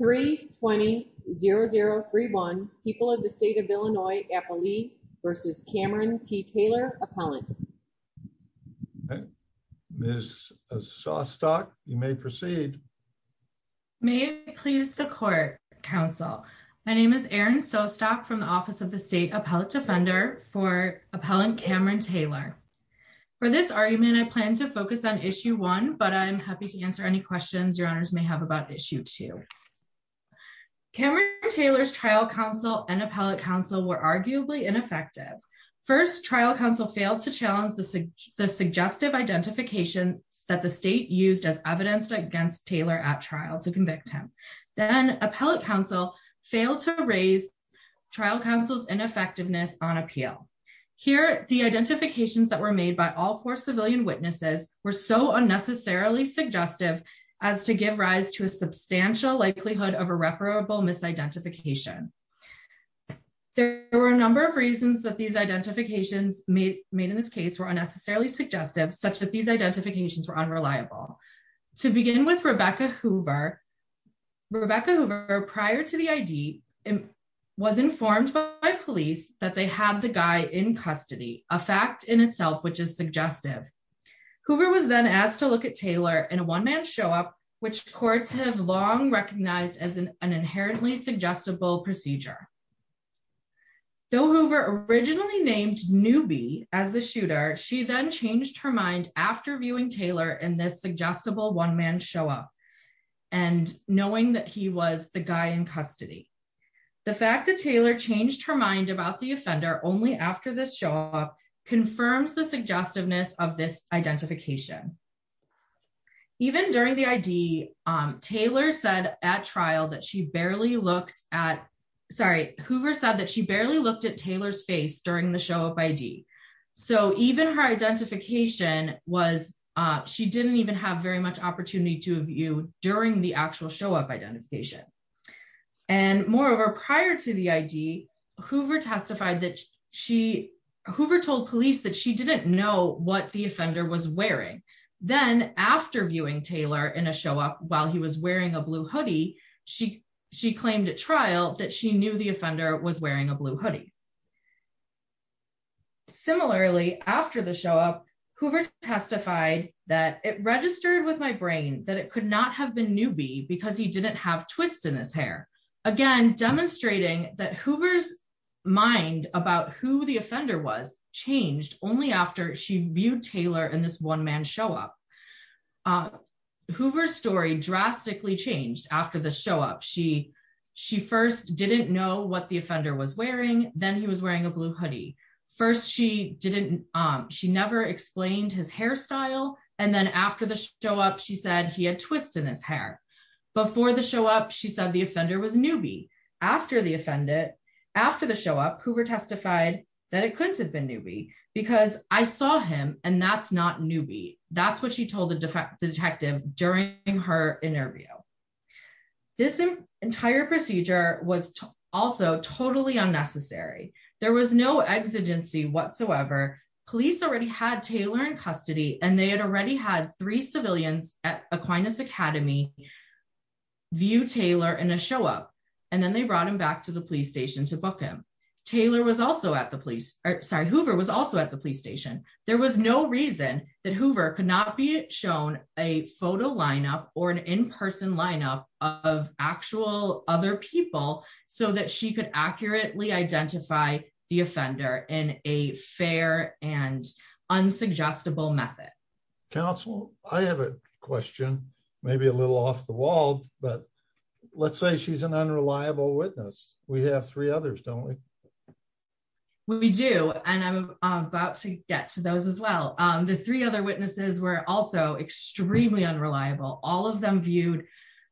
320-0031, people of the state of Illinois, Appali versus Cameron T. Taylor, appellant. Ms. Sostock, you may proceed. May it please the court, counsel. My name is Erin Sostock from the office of the state appellate defender for appellant Cameron Taylor. For this argument, I plan to focus on issue one, but I'm happy to answer any questions your honors may have about issue two. Cameron Taylor's trial counsel and appellate counsel were arguably ineffective. First, trial counsel failed to challenge the suggestive identification that the state used as evidence against Taylor at trial to convict him. Then, appellate counsel failed to raise trial counsel's ineffectiveness on appeal. Here, the identifications that were made by all four likelihood of irreparable misidentification. There were a number of reasons that these identifications made in this case were unnecessarily suggestive, such that these identifications were unreliable. To begin with Rebecca Hoover, Rebecca Hoover prior to the ID was informed by police that they had the guy in custody, a fact in itself which is suggestive. Hoover was then asked to look at Taylor in a one-man show-up, which courts have long recognized as an inherently suggestible procedure. Though Hoover originally named Newby as the shooter, she then changed her mind after viewing Taylor in this suggestible one-man show-up and knowing that he was the guy in custody. The fact that Taylor changed her mind about the offender only after this show-up confirms the identification. Even during the ID, Taylor said at trial that she barely looked at, sorry, Hoover said that she barely looked at Taylor's face during the show-up ID. Even her identification was, she didn't even have very much opportunity to view during the actual show-up identification. Moreover, prior to the ID, Hoover testified that she, Hoover told police that she didn't know what the offender was wearing. Then after viewing Taylor in a show-up while he was wearing a blue hoodie, she claimed at trial that she knew the offender was wearing a blue hoodie. Similarly, after the show-up, Hoover testified that it registered with my brain that it could not have been Newby because he didn't have twists in his hair. Again, demonstrating that Hoover's mind about who the offender was changed only after she viewed Taylor in this one-man show-up. Hoover's story drastically changed after the show-up. She first didn't know what the offender was wearing, then he was wearing a blue hoodie. First, she didn't, she never explained his hairstyle and then after the show-up, she said he had twists in his hair. Before the show-up, she said the offender was Newby. After the show-up, Hoover testified that it couldn't have been Newby because I saw him and that's not Newby. That's what she told the detective during her interview. This entire procedure was also totally unnecessary. There was no exigency whatsoever. Police already had Taylor in custody and they had already had three civilians at Aquinas Academy view Taylor in a show-up and then they brought him back to the police station to book him. Taylor was also at the police, sorry, Hoover was also at the police station. There was no reason that Hoover could not be shown a photo line-up or an in-person line-up of actual other people so that she could accurately identify the offender in a fair and unsuggestible method. Counsel, I have a question, maybe a little off the wall, but let's say she's an unreliable witness. We have three others, don't we? We do and I'm about to get to those as well. The three other witnesses were also extremely unreliable. All of them viewed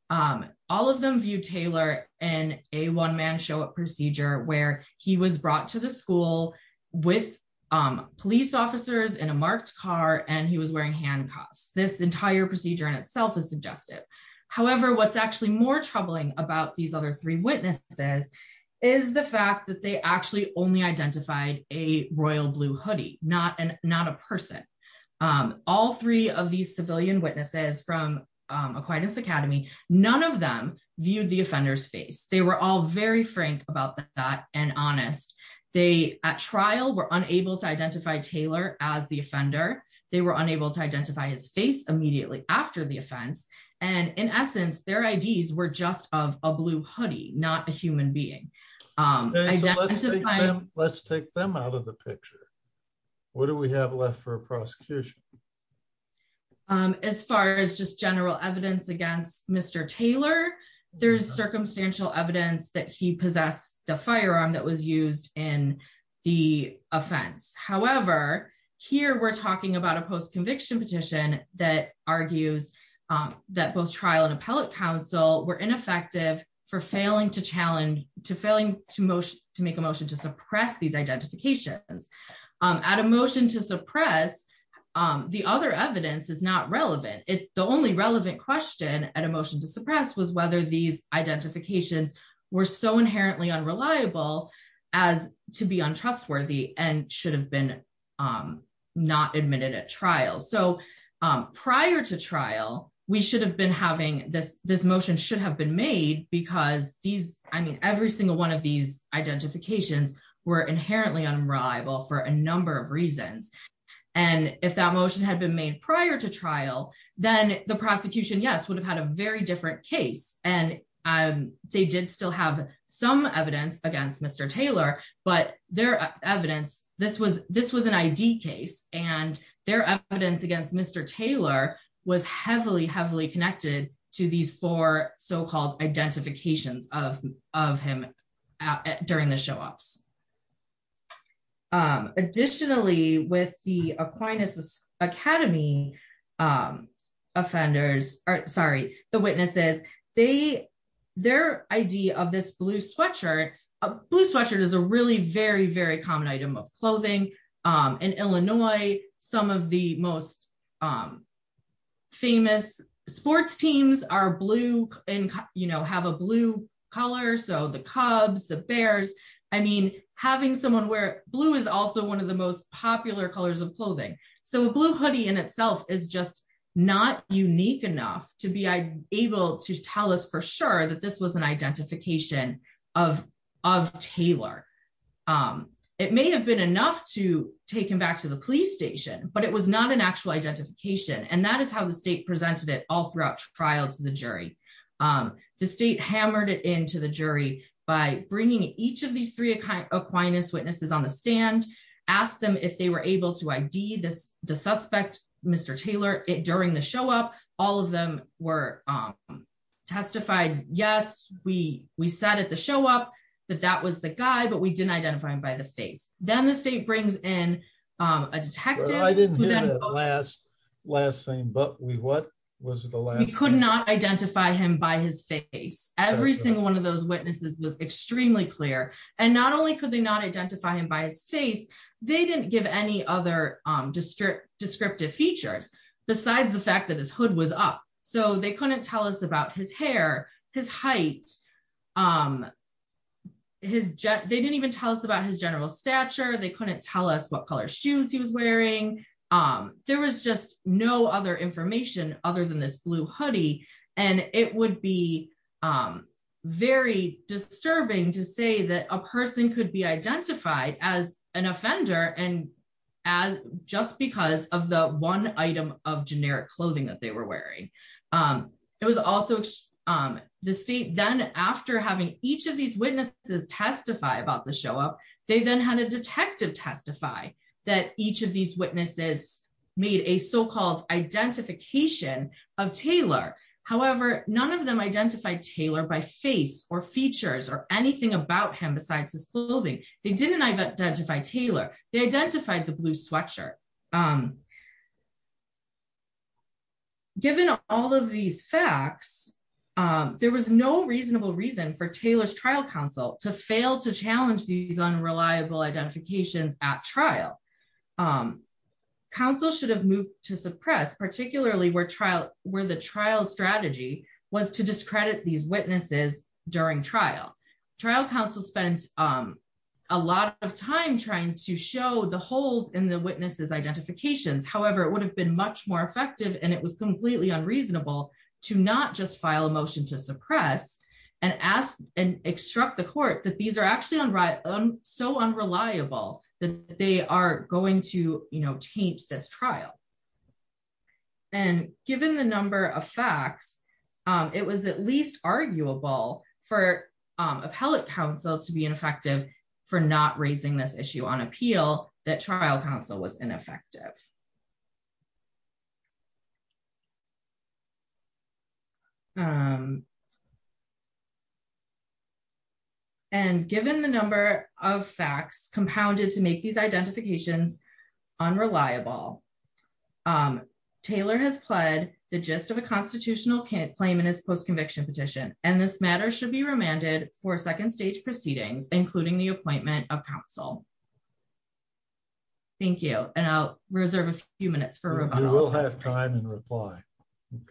Taylor in a one-man show-up procedure where he was brought to the school with police officers in a marked car and he was wearing handcuffs. This entire procedure in itself is suggestive. However, what's actually more troubling about these other three witnesses is the fact that they actually only identified a royal blue hoodie, not a person. All three of these civilian witnesses from Aquinas Academy, none of them viewed the offender's face. They were all very frank about that and honest. They, at trial, were unable to identify Taylor as the offender. They were unable to identify his face immediately after the offense. In essence, their IDs were just of a blue hoodie, not a human being. Let's take them out of the picture. What do we have left for a prosecution? As far as just general evidence against Mr. Taylor, there's circumstantial evidence that he possessed the firearm that was used in the offense. However, here we're talking about a post-conviction petition that argues that both trial and appellate counsel were ineffective for failing to make a motion to suppress these identifications. At a motion to suppress, the other evidence is not relevant. The only relevant question at a motion to suppress was whether these identifications were so inherently unreliable as to be untrustworthy and should have been not admitted at trial. Prior to trial, this motion should have been made because every single one of these identifications were inherently unreliable for a number of reasons. If that motion had been made prior to trial, then the prosecution, yes, would have had a very different case. They did still have some evidence against Mr. Taylor, but their evidence, this was an ID case, and their evidence against Mr. Taylor was heavily connected to these four so-called identifications of him during the show-offs. Additionally, with the Aquinas Academy offenders, sorry, the witnesses, their idea of this blue sweatshirt, a blue sweatshirt is a really very, very common item of clothing. In Illinois, some of the most having someone wear blue is also one of the most popular colors of clothing. A blue hoodie in itself is just not unique enough to be able to tell us for sure that this was an identification of Taylor. It may have been enough to take him back to the police station, but it was not an actual identification. That is how the state presented it all throughout trial to the jury. The state hammered it into the jury by bringing each of these three Aquinas witnesses on the stand, asked them if they were able to ID the suspect, Mr. Taylor, during the show-up. All of them were testified, yes, we sat at the show-up, that that was the guy, but we didn't identify him by the face. Then the state brings in a detective. I didn't hear that last saying, but we what? We could not identify him by his face. Every single one of those witnesses was extremely clear. Not only could they not identify him by his face, they didn't give any other descriptive features besides the fact that his hood was up. They couldn't tell us about his hair, his height. They didn't even tell us about his general stature. They couldn't tell us what color information other than this blue hoodie. It would be very disturbing to say that a person could be identified as an offender just because of the one item of generic clothing that they were wearing. The state then, after having each of these witnesses testify about the show-up, they then had a detective testify that each of these witnesses made a so-called identification of Taylor. However, none of them identified Taylor by face or features or anything about him besides his clothing. They didn't identify Taylor. They identified the blue sweatshirt. Given all of these facts, there was no reasonable reason for Taylor's trial counsel to fail to file unreliable identifications at trial. Counsel should have moved to suppress, particularly where the trial strategy was to discredit these witnesses during trial. Trial counsel spent a lot of time trying to show the holes in the witnesses' identifications. However, it would have been much more effective and it was completely unreasonable to not just file a suppress and ask and instruct the court that these are actually so unreliable that they are going to taint this trial. Given the number of facts, it was at least arguable for appellate counsel to be ineffective for not raising this issue on appeal that trial counsel was ineffective. And given the number of facts compounded to make these identifications unreliable, Taylor has pled the gist of a constitutional claim in his post-conviction petition and this matter should be remanded for second stage proceedings, including the appointment of counsel. Thank you, and I'll reserve a few minutes for rebuttal. You will have time and reply.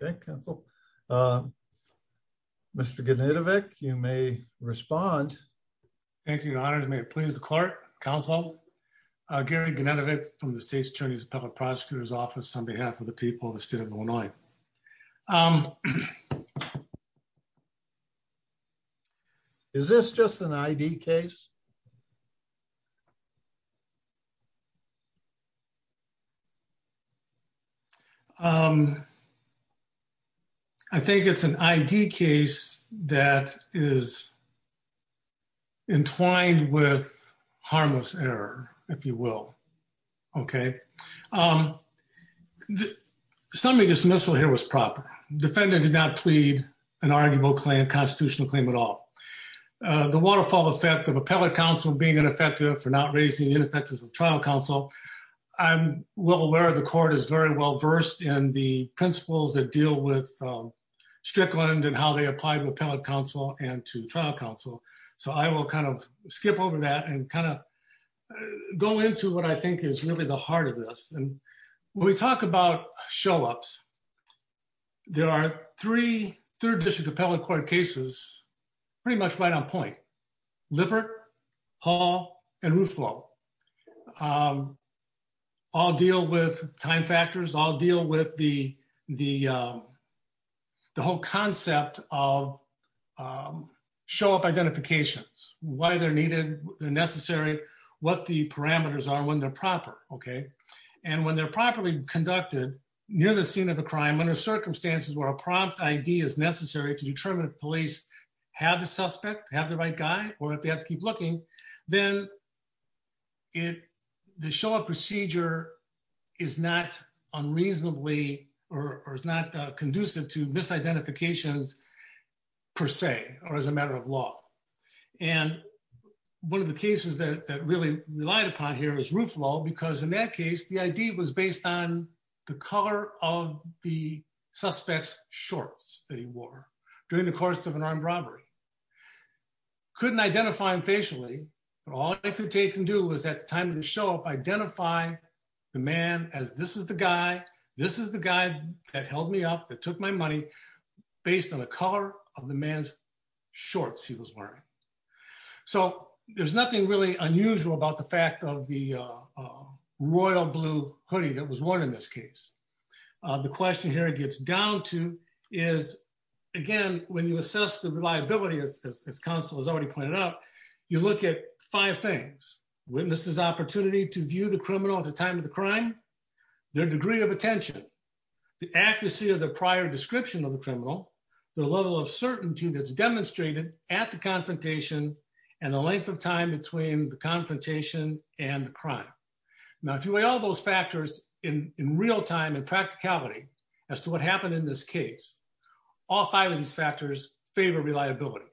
Okay, counsel. Mr. Gennadievic, you may respond. Thank you, Your Honors. May it please the clerk, counsel, Gary Gennadievic from the State's Attorney's and Public Prosecutor's Office on behalf of the people of the state of Illinois. Is this just an ID case? I think it's an ID case that is entwined with harmless error, if you will. Okay. Summary dismissal here was proper. Defendant did not plead an arguable constitutional claim at all. The waterfall effect of appellate counsel being ineffective for not raising the ineffectiveness of trial counsel, I'm well aware the court is very well versed in the principles that deal with Strickland and how they apply to appellate counsel and to trial counsel. So I will kind of skip over that and kind of go into what I think is really the heart of this. And when we talk about show-ups, there are three third district appellate court cases pretty much right on point. Lippert, Hall, and Ruflo. I'll deal with time factors. I'll deal with the whole concept of show-up identifications, why they're needed, they're necessary, what the parameters are, when they're proper. Okay. And when they're properly conducted near the scene of a crime, under circumstances where a prompt ID is necessary to determine if police have the suspect, have the right guy, or if they have to keep looking, then the show-up procedure is not unreasonably or is not conducive to misidentifications per se or as a matter of law. And one of the cases that really relied upon here is Ruflo because in that case, the ID was based on the color of the suspect's during the course of an armed robbery. Couldn't identify him facially, but all I could take and do was at the time of the show-up, identify the man as this is the guy, this is the guy that held me up, that took my money based on the color of the man's shorts he was wearing. So there's nothing really unusual about the fact of the royal blue hoodie that was worn in this case. The question here it gets down to is, again, when you assess the reliability as counsel has already pointed out, you look at five things. Witnesses opportunity to view the criminal at the time of the crime, their degree of attention, the accuracy of the prior description of the criminal, the level of certainty that's demonstrated at the confrontation and the length of time between the confrontation and the crime. Now, if you weigh all those factors in real time and practicality, as to what happened in this case, all five of these factors favor reliability.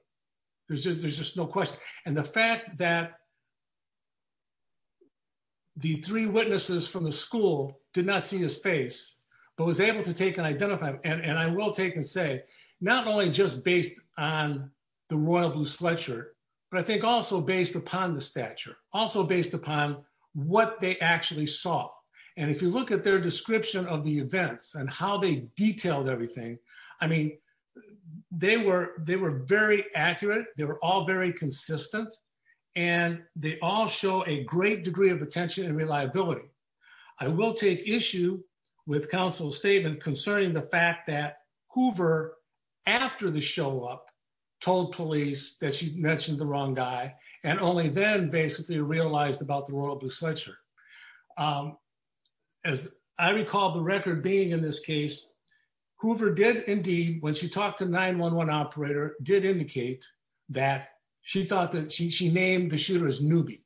There's just no question. And the fact that the three witnesses from the school did not see his face, but was able to take and identify him. And I will take and say, not only just based on the royal blue sweatshirt, but I think also based upon the stature, also based upon what they actually saw. And if you look at their description of the events and how they detailed everything, I mean, they were very accurate. They were all very consistent and they all show a great degree of attention and reliability. I will take issue with counsel's statement concerning the fact that Hoover, after the show up, told police that she mentioned the wrong guy and only then basically realized about the royal blue sweatshirt. As I recall the record being in this case, Hoover did indeed, when she talked to 911 operator, did indicate that she thought that she named the shooter's newbie.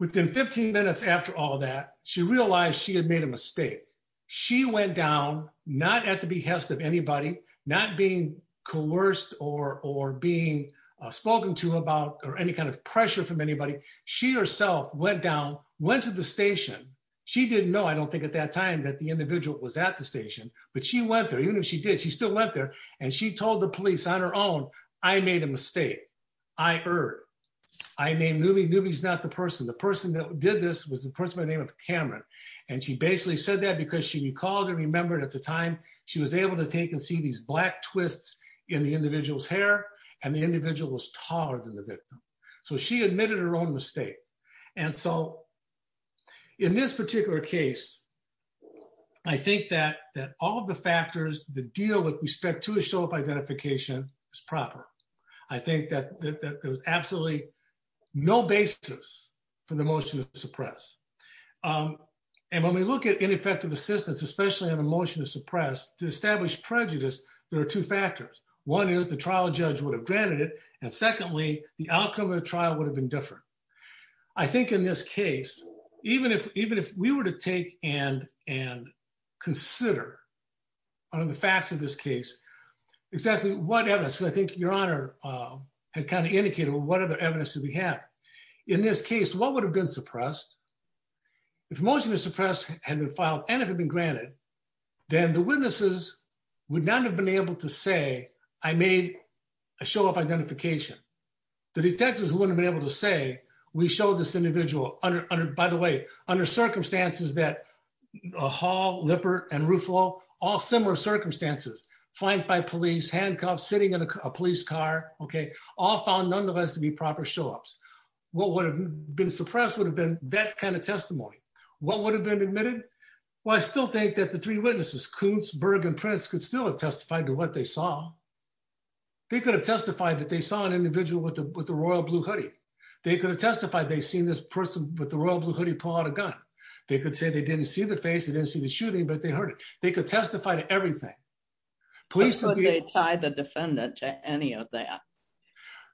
Within 15 minutes after all that, she realized she had made a mistake. She went down, not at the behest of anybody, not being coerced or being spoken to about or any kind of pressure from anybody. She herself went down, went to the station. She didn't know, I don't think at that time that the individual was at the station, but she went there, even if she did, she still went there and she told the police on her own, I made a mistake. I erred. I named newbie. Newbie's not the person. The person that did this was the person by the name of Cameron. And she basically said that because she recalled and remembered at the time she was able to take and see these black her own mistake. And so in this particular case, I think that all of the factors that deal with respect to a show-up identification is proper. I think that there was absolutely no basis for the motion to suppress. And when we look at ineffective assistance, especially on a motion to suppress, to establish prejudice, there are two factors. One is the trial judge would have granted it. And secondly, the outcome of the trial would have been different. I think in this case, even if, even if we were to take and, and consider on the facts of this case, exactly what evidence, I think your honor had kind of indicated what other evidence did we have in this case, what would have been suppressed? If most of the suppress had been filed and if it'd been granted, then the witnesses would not have been able to say, I made a show-up identification. The detectives wouldn't have been able to say, we showed this individual under, by the way, under circumstances that Hall, Lippert, and Ruffalo, all similar circumstances, flanked by police, handcuffed, sitting in a police car. Okay. All found nonetheless to be proper show-ups. What would have been suppressed would have been that kind of testimony. What would have been admitted? Well, I still think that the three witnesses, Kuntz, Berg, and Prince could still have testified to what they saw. They could have testified that they saw an individual with the, with the royal blue hoodie. They could have testified. They seen this person with the royal blue hoodie, pull out a gun. They could say they didn't see the face. They didn't see the shooting, but they heard it. They could testify to everything. Police would be tied the defendant to any of that.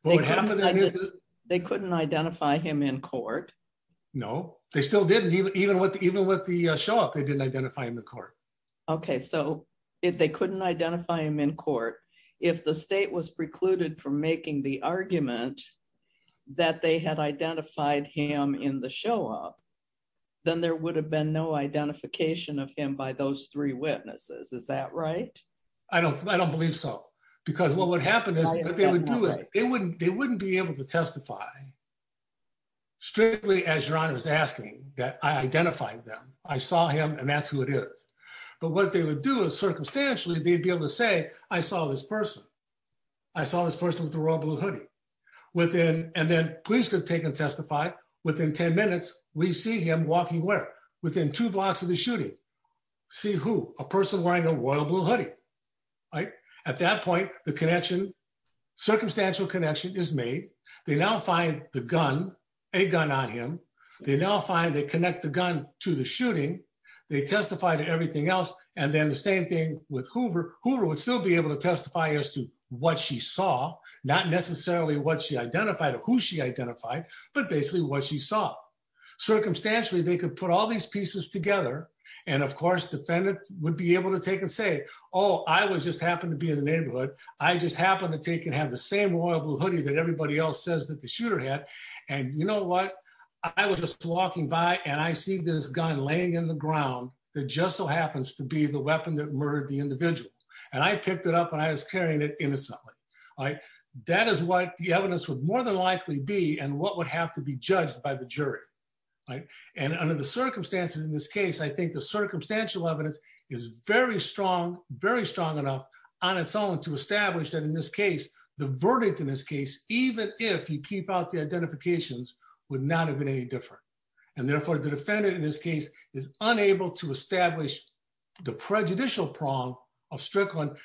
They couldn't identify him in court. No, they still didn't even, even with, the show-up, they didn't identify him in court. Okay. So if they couldn't identify him in court, if the state was precluded from making the argument that they had identified him in the show-up, then there would have been no identification of him by those three witnesses. Is that right? I don't, I don't believe so because what would happen is they wouldn't, they wouldn't be able to testify strictly as your honor is asking, that I identified them. I saw him and that's who it is. But what they would do is circumstantially, they'd be able to say, I saw this person. I saw this person with the royal blue hoodie. Within, and then police could take and testify. Within 10 minutes, we see him walking where? Within two blocks of the shooting. See who? A person wearing a royal blue hoodie, right? At that point, the connection, circumstantial connection is made. They now find the gun, a gun on him. They now find, they connect the gun to the shooting. They testify to everything else. And then the same thing with Hoover. Hoover would still be able to testify as to what she saw, not necessarily what she identified or who she identified, but basically what she saw. Circumstantially, they could put all these pieces together. And of course, defendant would be able to take and say, oh, I was just happened to be in the neighborhood. I just happened to take and have the same royal blue hoodie that everybody else says that the shooter had. And you know what? I was just walking by and I see this gun laying in the ground that just so happens to be the weapon that murdered the individual. And I picked it up and I was carrying it innocently. That is what the evidence would more than likely be and what would have to be judged by the jury. And under the circumstances in this case, I think the circumstantial evidence is very strong, very strong enough on its own to establish that in this case, the verdict in this case, even if you keep out the identifications would not have been any different. And therefore the defendant in this case is unable to establish the prejudicial prong of Strickland,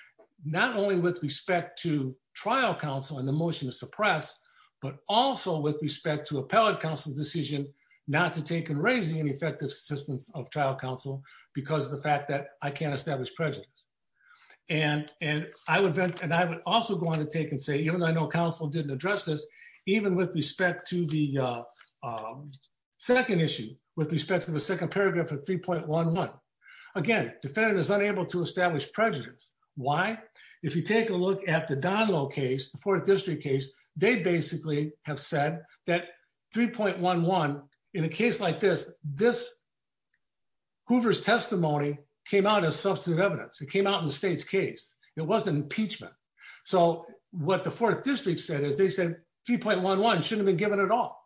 not only with respect to trial counsel and the motion to suppress, but also with respect to appellate counsel's decision not to take and raise any effective assistance of trial counsel because of the fact that I can't establish prejudice. And I would also go on to take and say, even though I know counsel didn't address this, even with respect to the second issue, with respect to the second paragraph of 3.11, again, defendant is unable to establish prejudice. Why? If you take a look at the Donlow case, the fourth district case, they basically have said that 3.11 in a case like this, this Hoover's testimony came out as substantive evidence. It came out in the state's case. It wasn't impeachment. So what the fourth district said is they said, 3.11 shouldn't have been given at all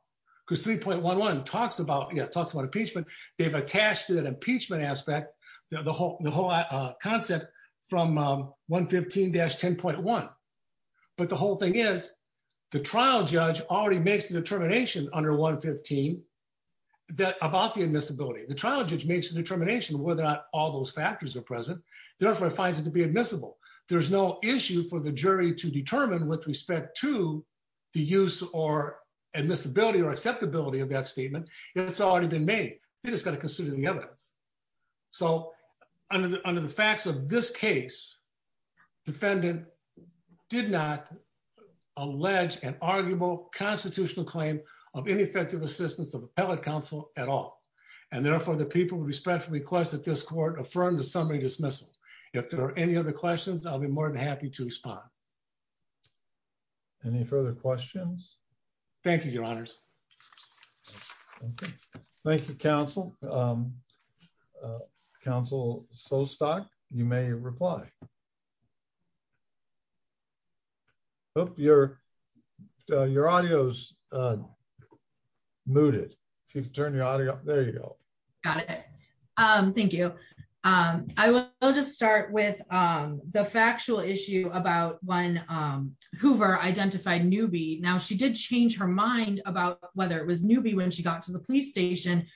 because 3.11 talks about, yeah, talks about impeachment. They've attached to that impeachment aspect, the whole concept from 115-10.1. But the whole thing is the trial judge already makes the determination under 115 about the admissibility. The trial judge makes the determination whether or not all those factors are present. Therefore, it finds it to be admissible. There's no issue for the jury to determine with respect to the use or admissibility or acceptability of that statement. It's already been made. They just got to consider the evidence. So under the facts of this case, defendant did not allege an arguable constitutional claim of ineffective assistance of appellate counsel at all. And therefore the people with respect to request that this court affirm the summary dismissal. If there are any other questions, I'll be more than happy to respond. Any further questions? Thank you, your honors. Thank you, counsel. Counsel Solstock, you may reply. Hope your, your audio's muted. If you can turn your audio up. There you go. Got it. Thank you. I will just start with the factual issue about when Hoover identified Newby. Now she did change her mind about whether it was Newby when she got to the police station.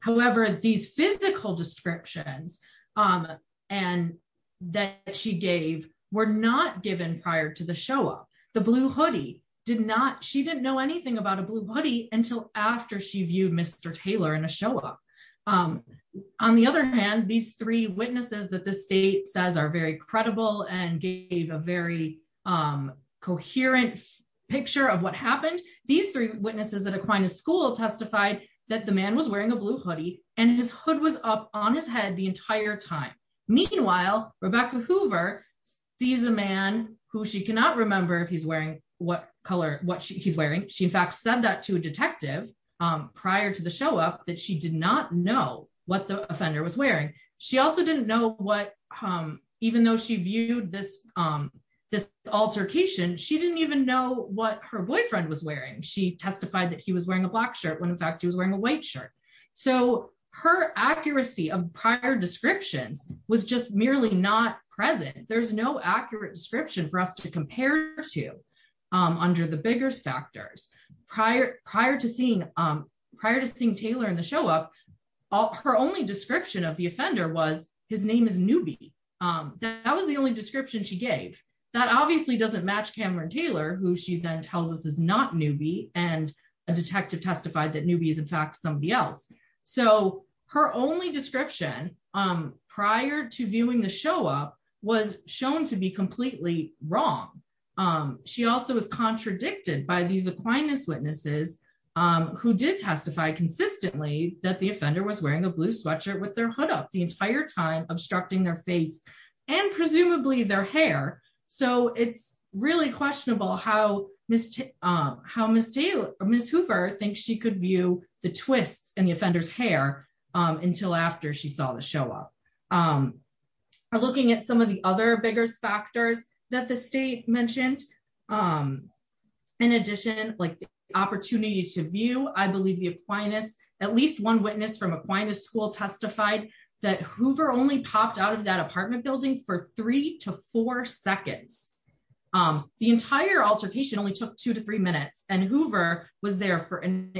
However, these physical descriptions and that she gave were not given prior to the show up. The blue hoodie did not, she didn't know anything about a blue hoodie until after she viewed Mr. Taylor in a show up. On the other hand, these three witnesses that the state says are very credible and gave a very coherent picture of what happened. These three witnesses at Aquinas School testified that the man was wearing a blue hoodie and his hood was up on his head the entire time. Meanwhile, Rebecca Hoover sees a man who she cannot remember if he's wearing what color, what he's wearing. She in fact said that to a detective prior to the show up that she did not know what the offender was wearing. She also didn't know what, even though she viewed this, this altercation, she didn't even know what her boyfriend was wearing. She testified that he was wearing a black shirt when in fact he was wearing a white shirt. So her accuracy of prior descriptions was just merely not present. There's no accurate description for us to compare to under the biggest factors. Prior to seeing, prior to seeing Taylor in the show up, her only description of the offender was his name is Newby. That was the only description she gave. That obviously doesn't match Cameron Taylor, who she then tells us is not Newby and a detective testified that Newby is in fact somebody else. So her only description prior to viewing the show up was shown to be completely wrong. She also was contradicted by these Aquinas witnesses who did testify consistently that the offender was wearing a blue sweatshirt with their hood up the entire time obstructing their face and presumably their hair. So it's really questionable how Ms. Taylor, Ms. Hoover thinks she could view the twists in the offender's hair until after she saw the show up. Looking at some of the other bigger factors that the state mentioned, in addition like the opportunity to view, I believe the Aquinas, at least one witness from Aquinas school testified that Hoover only popped out of that apartment building for three to four seconds. The entire altercation only took two to three minutes and Hoover was there for an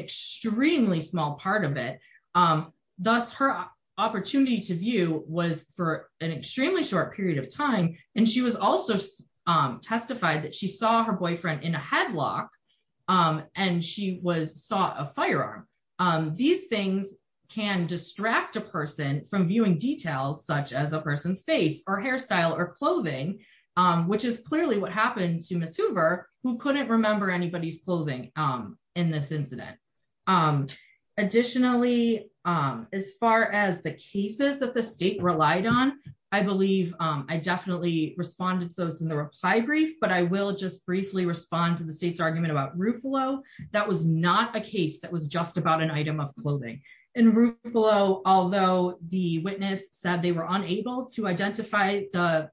hour. Thus her opportunity to view was for an extremely short period of time and she was also testified that she saw her boyfriend in a headlock and she was sought a firearm. These things can distract a person from viewing details such as a person's face or hairstyle or clothing, which is clearly what happened to Ms. Hoover who couldn't remember anybody's clothing in this incident. Additionally, as far as the cases that the state relied on, I believe I definitely responded to those in the reply brief, but I will just briefly respond to the state's argument about Ruffalo. That was not a case that was just about an item of clothing. In Ruffalo, although the witness said they were unable to identify the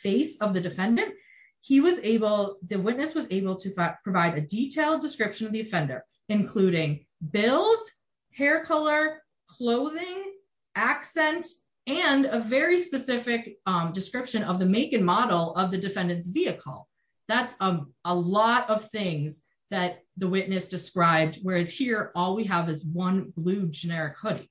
face of the defendant, he was able, the witness was able to provide a detailed description of the offender, including build, hair color, clothing, accent, and a very specific description of the make and model of the defendant's vehicle. That's a lot of things that the witness described, whereas here all we have is one blue generic hoodie.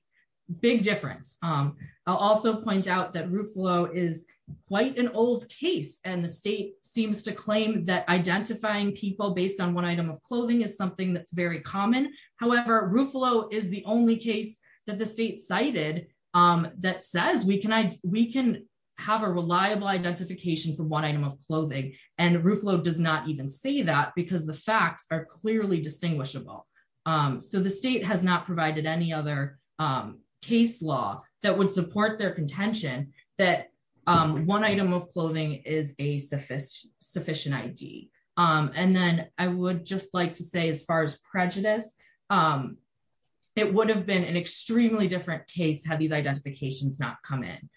Big difference. I'll also point out that Ruffalo is quite an old case and the state seems to claim that identifying people based on one item of clothing is something that's very common. However, Ruffalo is the only case that the state cited that says we can have a reliable identification for one item of clothing and Ruffalo does not even say that because the facts are clearly distinguishable. The state has not provided any other case law that would support their contention that one item of clothing is a sufficient ID. Then I would just like to say as far as prejudice, it would have been an extremely different case had these identifications not come in.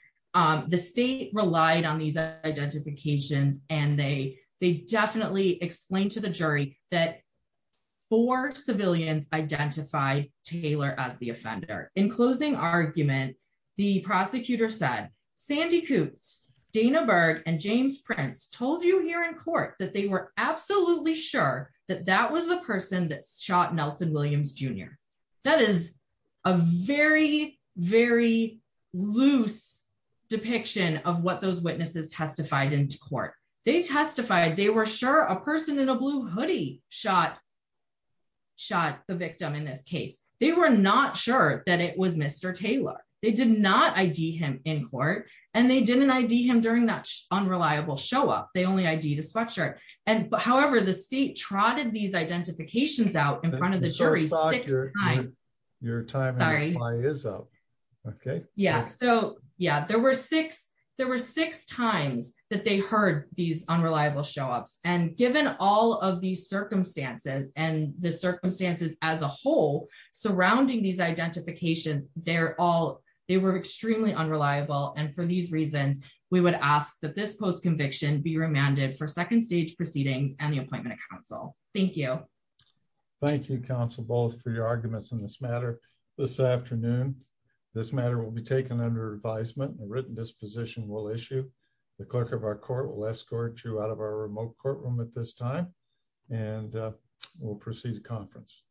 The state relied on these identifications and they definitely explained to the jury that four civilians identified Taylor as the offender. In closing argument, the prosecutor said, Sandy Coots, Dana Berg, and James Prince told you here in court that they were absolutely sure that that was the person that shot Nelson Williams Jr. That is a very, very loose depiction of what those witnesses testified in court. They testified they were sure a person in a blue hoodie shot the victim in this case. They were not sure that it was Mr. Taylor. They did not ID him in court and they didn't ID him during that unreliable show up. They only ID the sweatshirt. However, the state trotted these your time is up. Okay. Yeah. So yeah, there were six, there were six times that they heard these unreliable shops. And given all of these circumstances and the circumstances as a whole surrounding these identifications, they're all, they were extremely unreliable. And for these reasons, we would ask that this post conviction be remanded for second stage proceedings and the matter this afternoon, this matter will be taken under advisement and written disposition will issue. The clerk of our court will escort you out of our remote courtroom at this time, and we'll proceed to conference.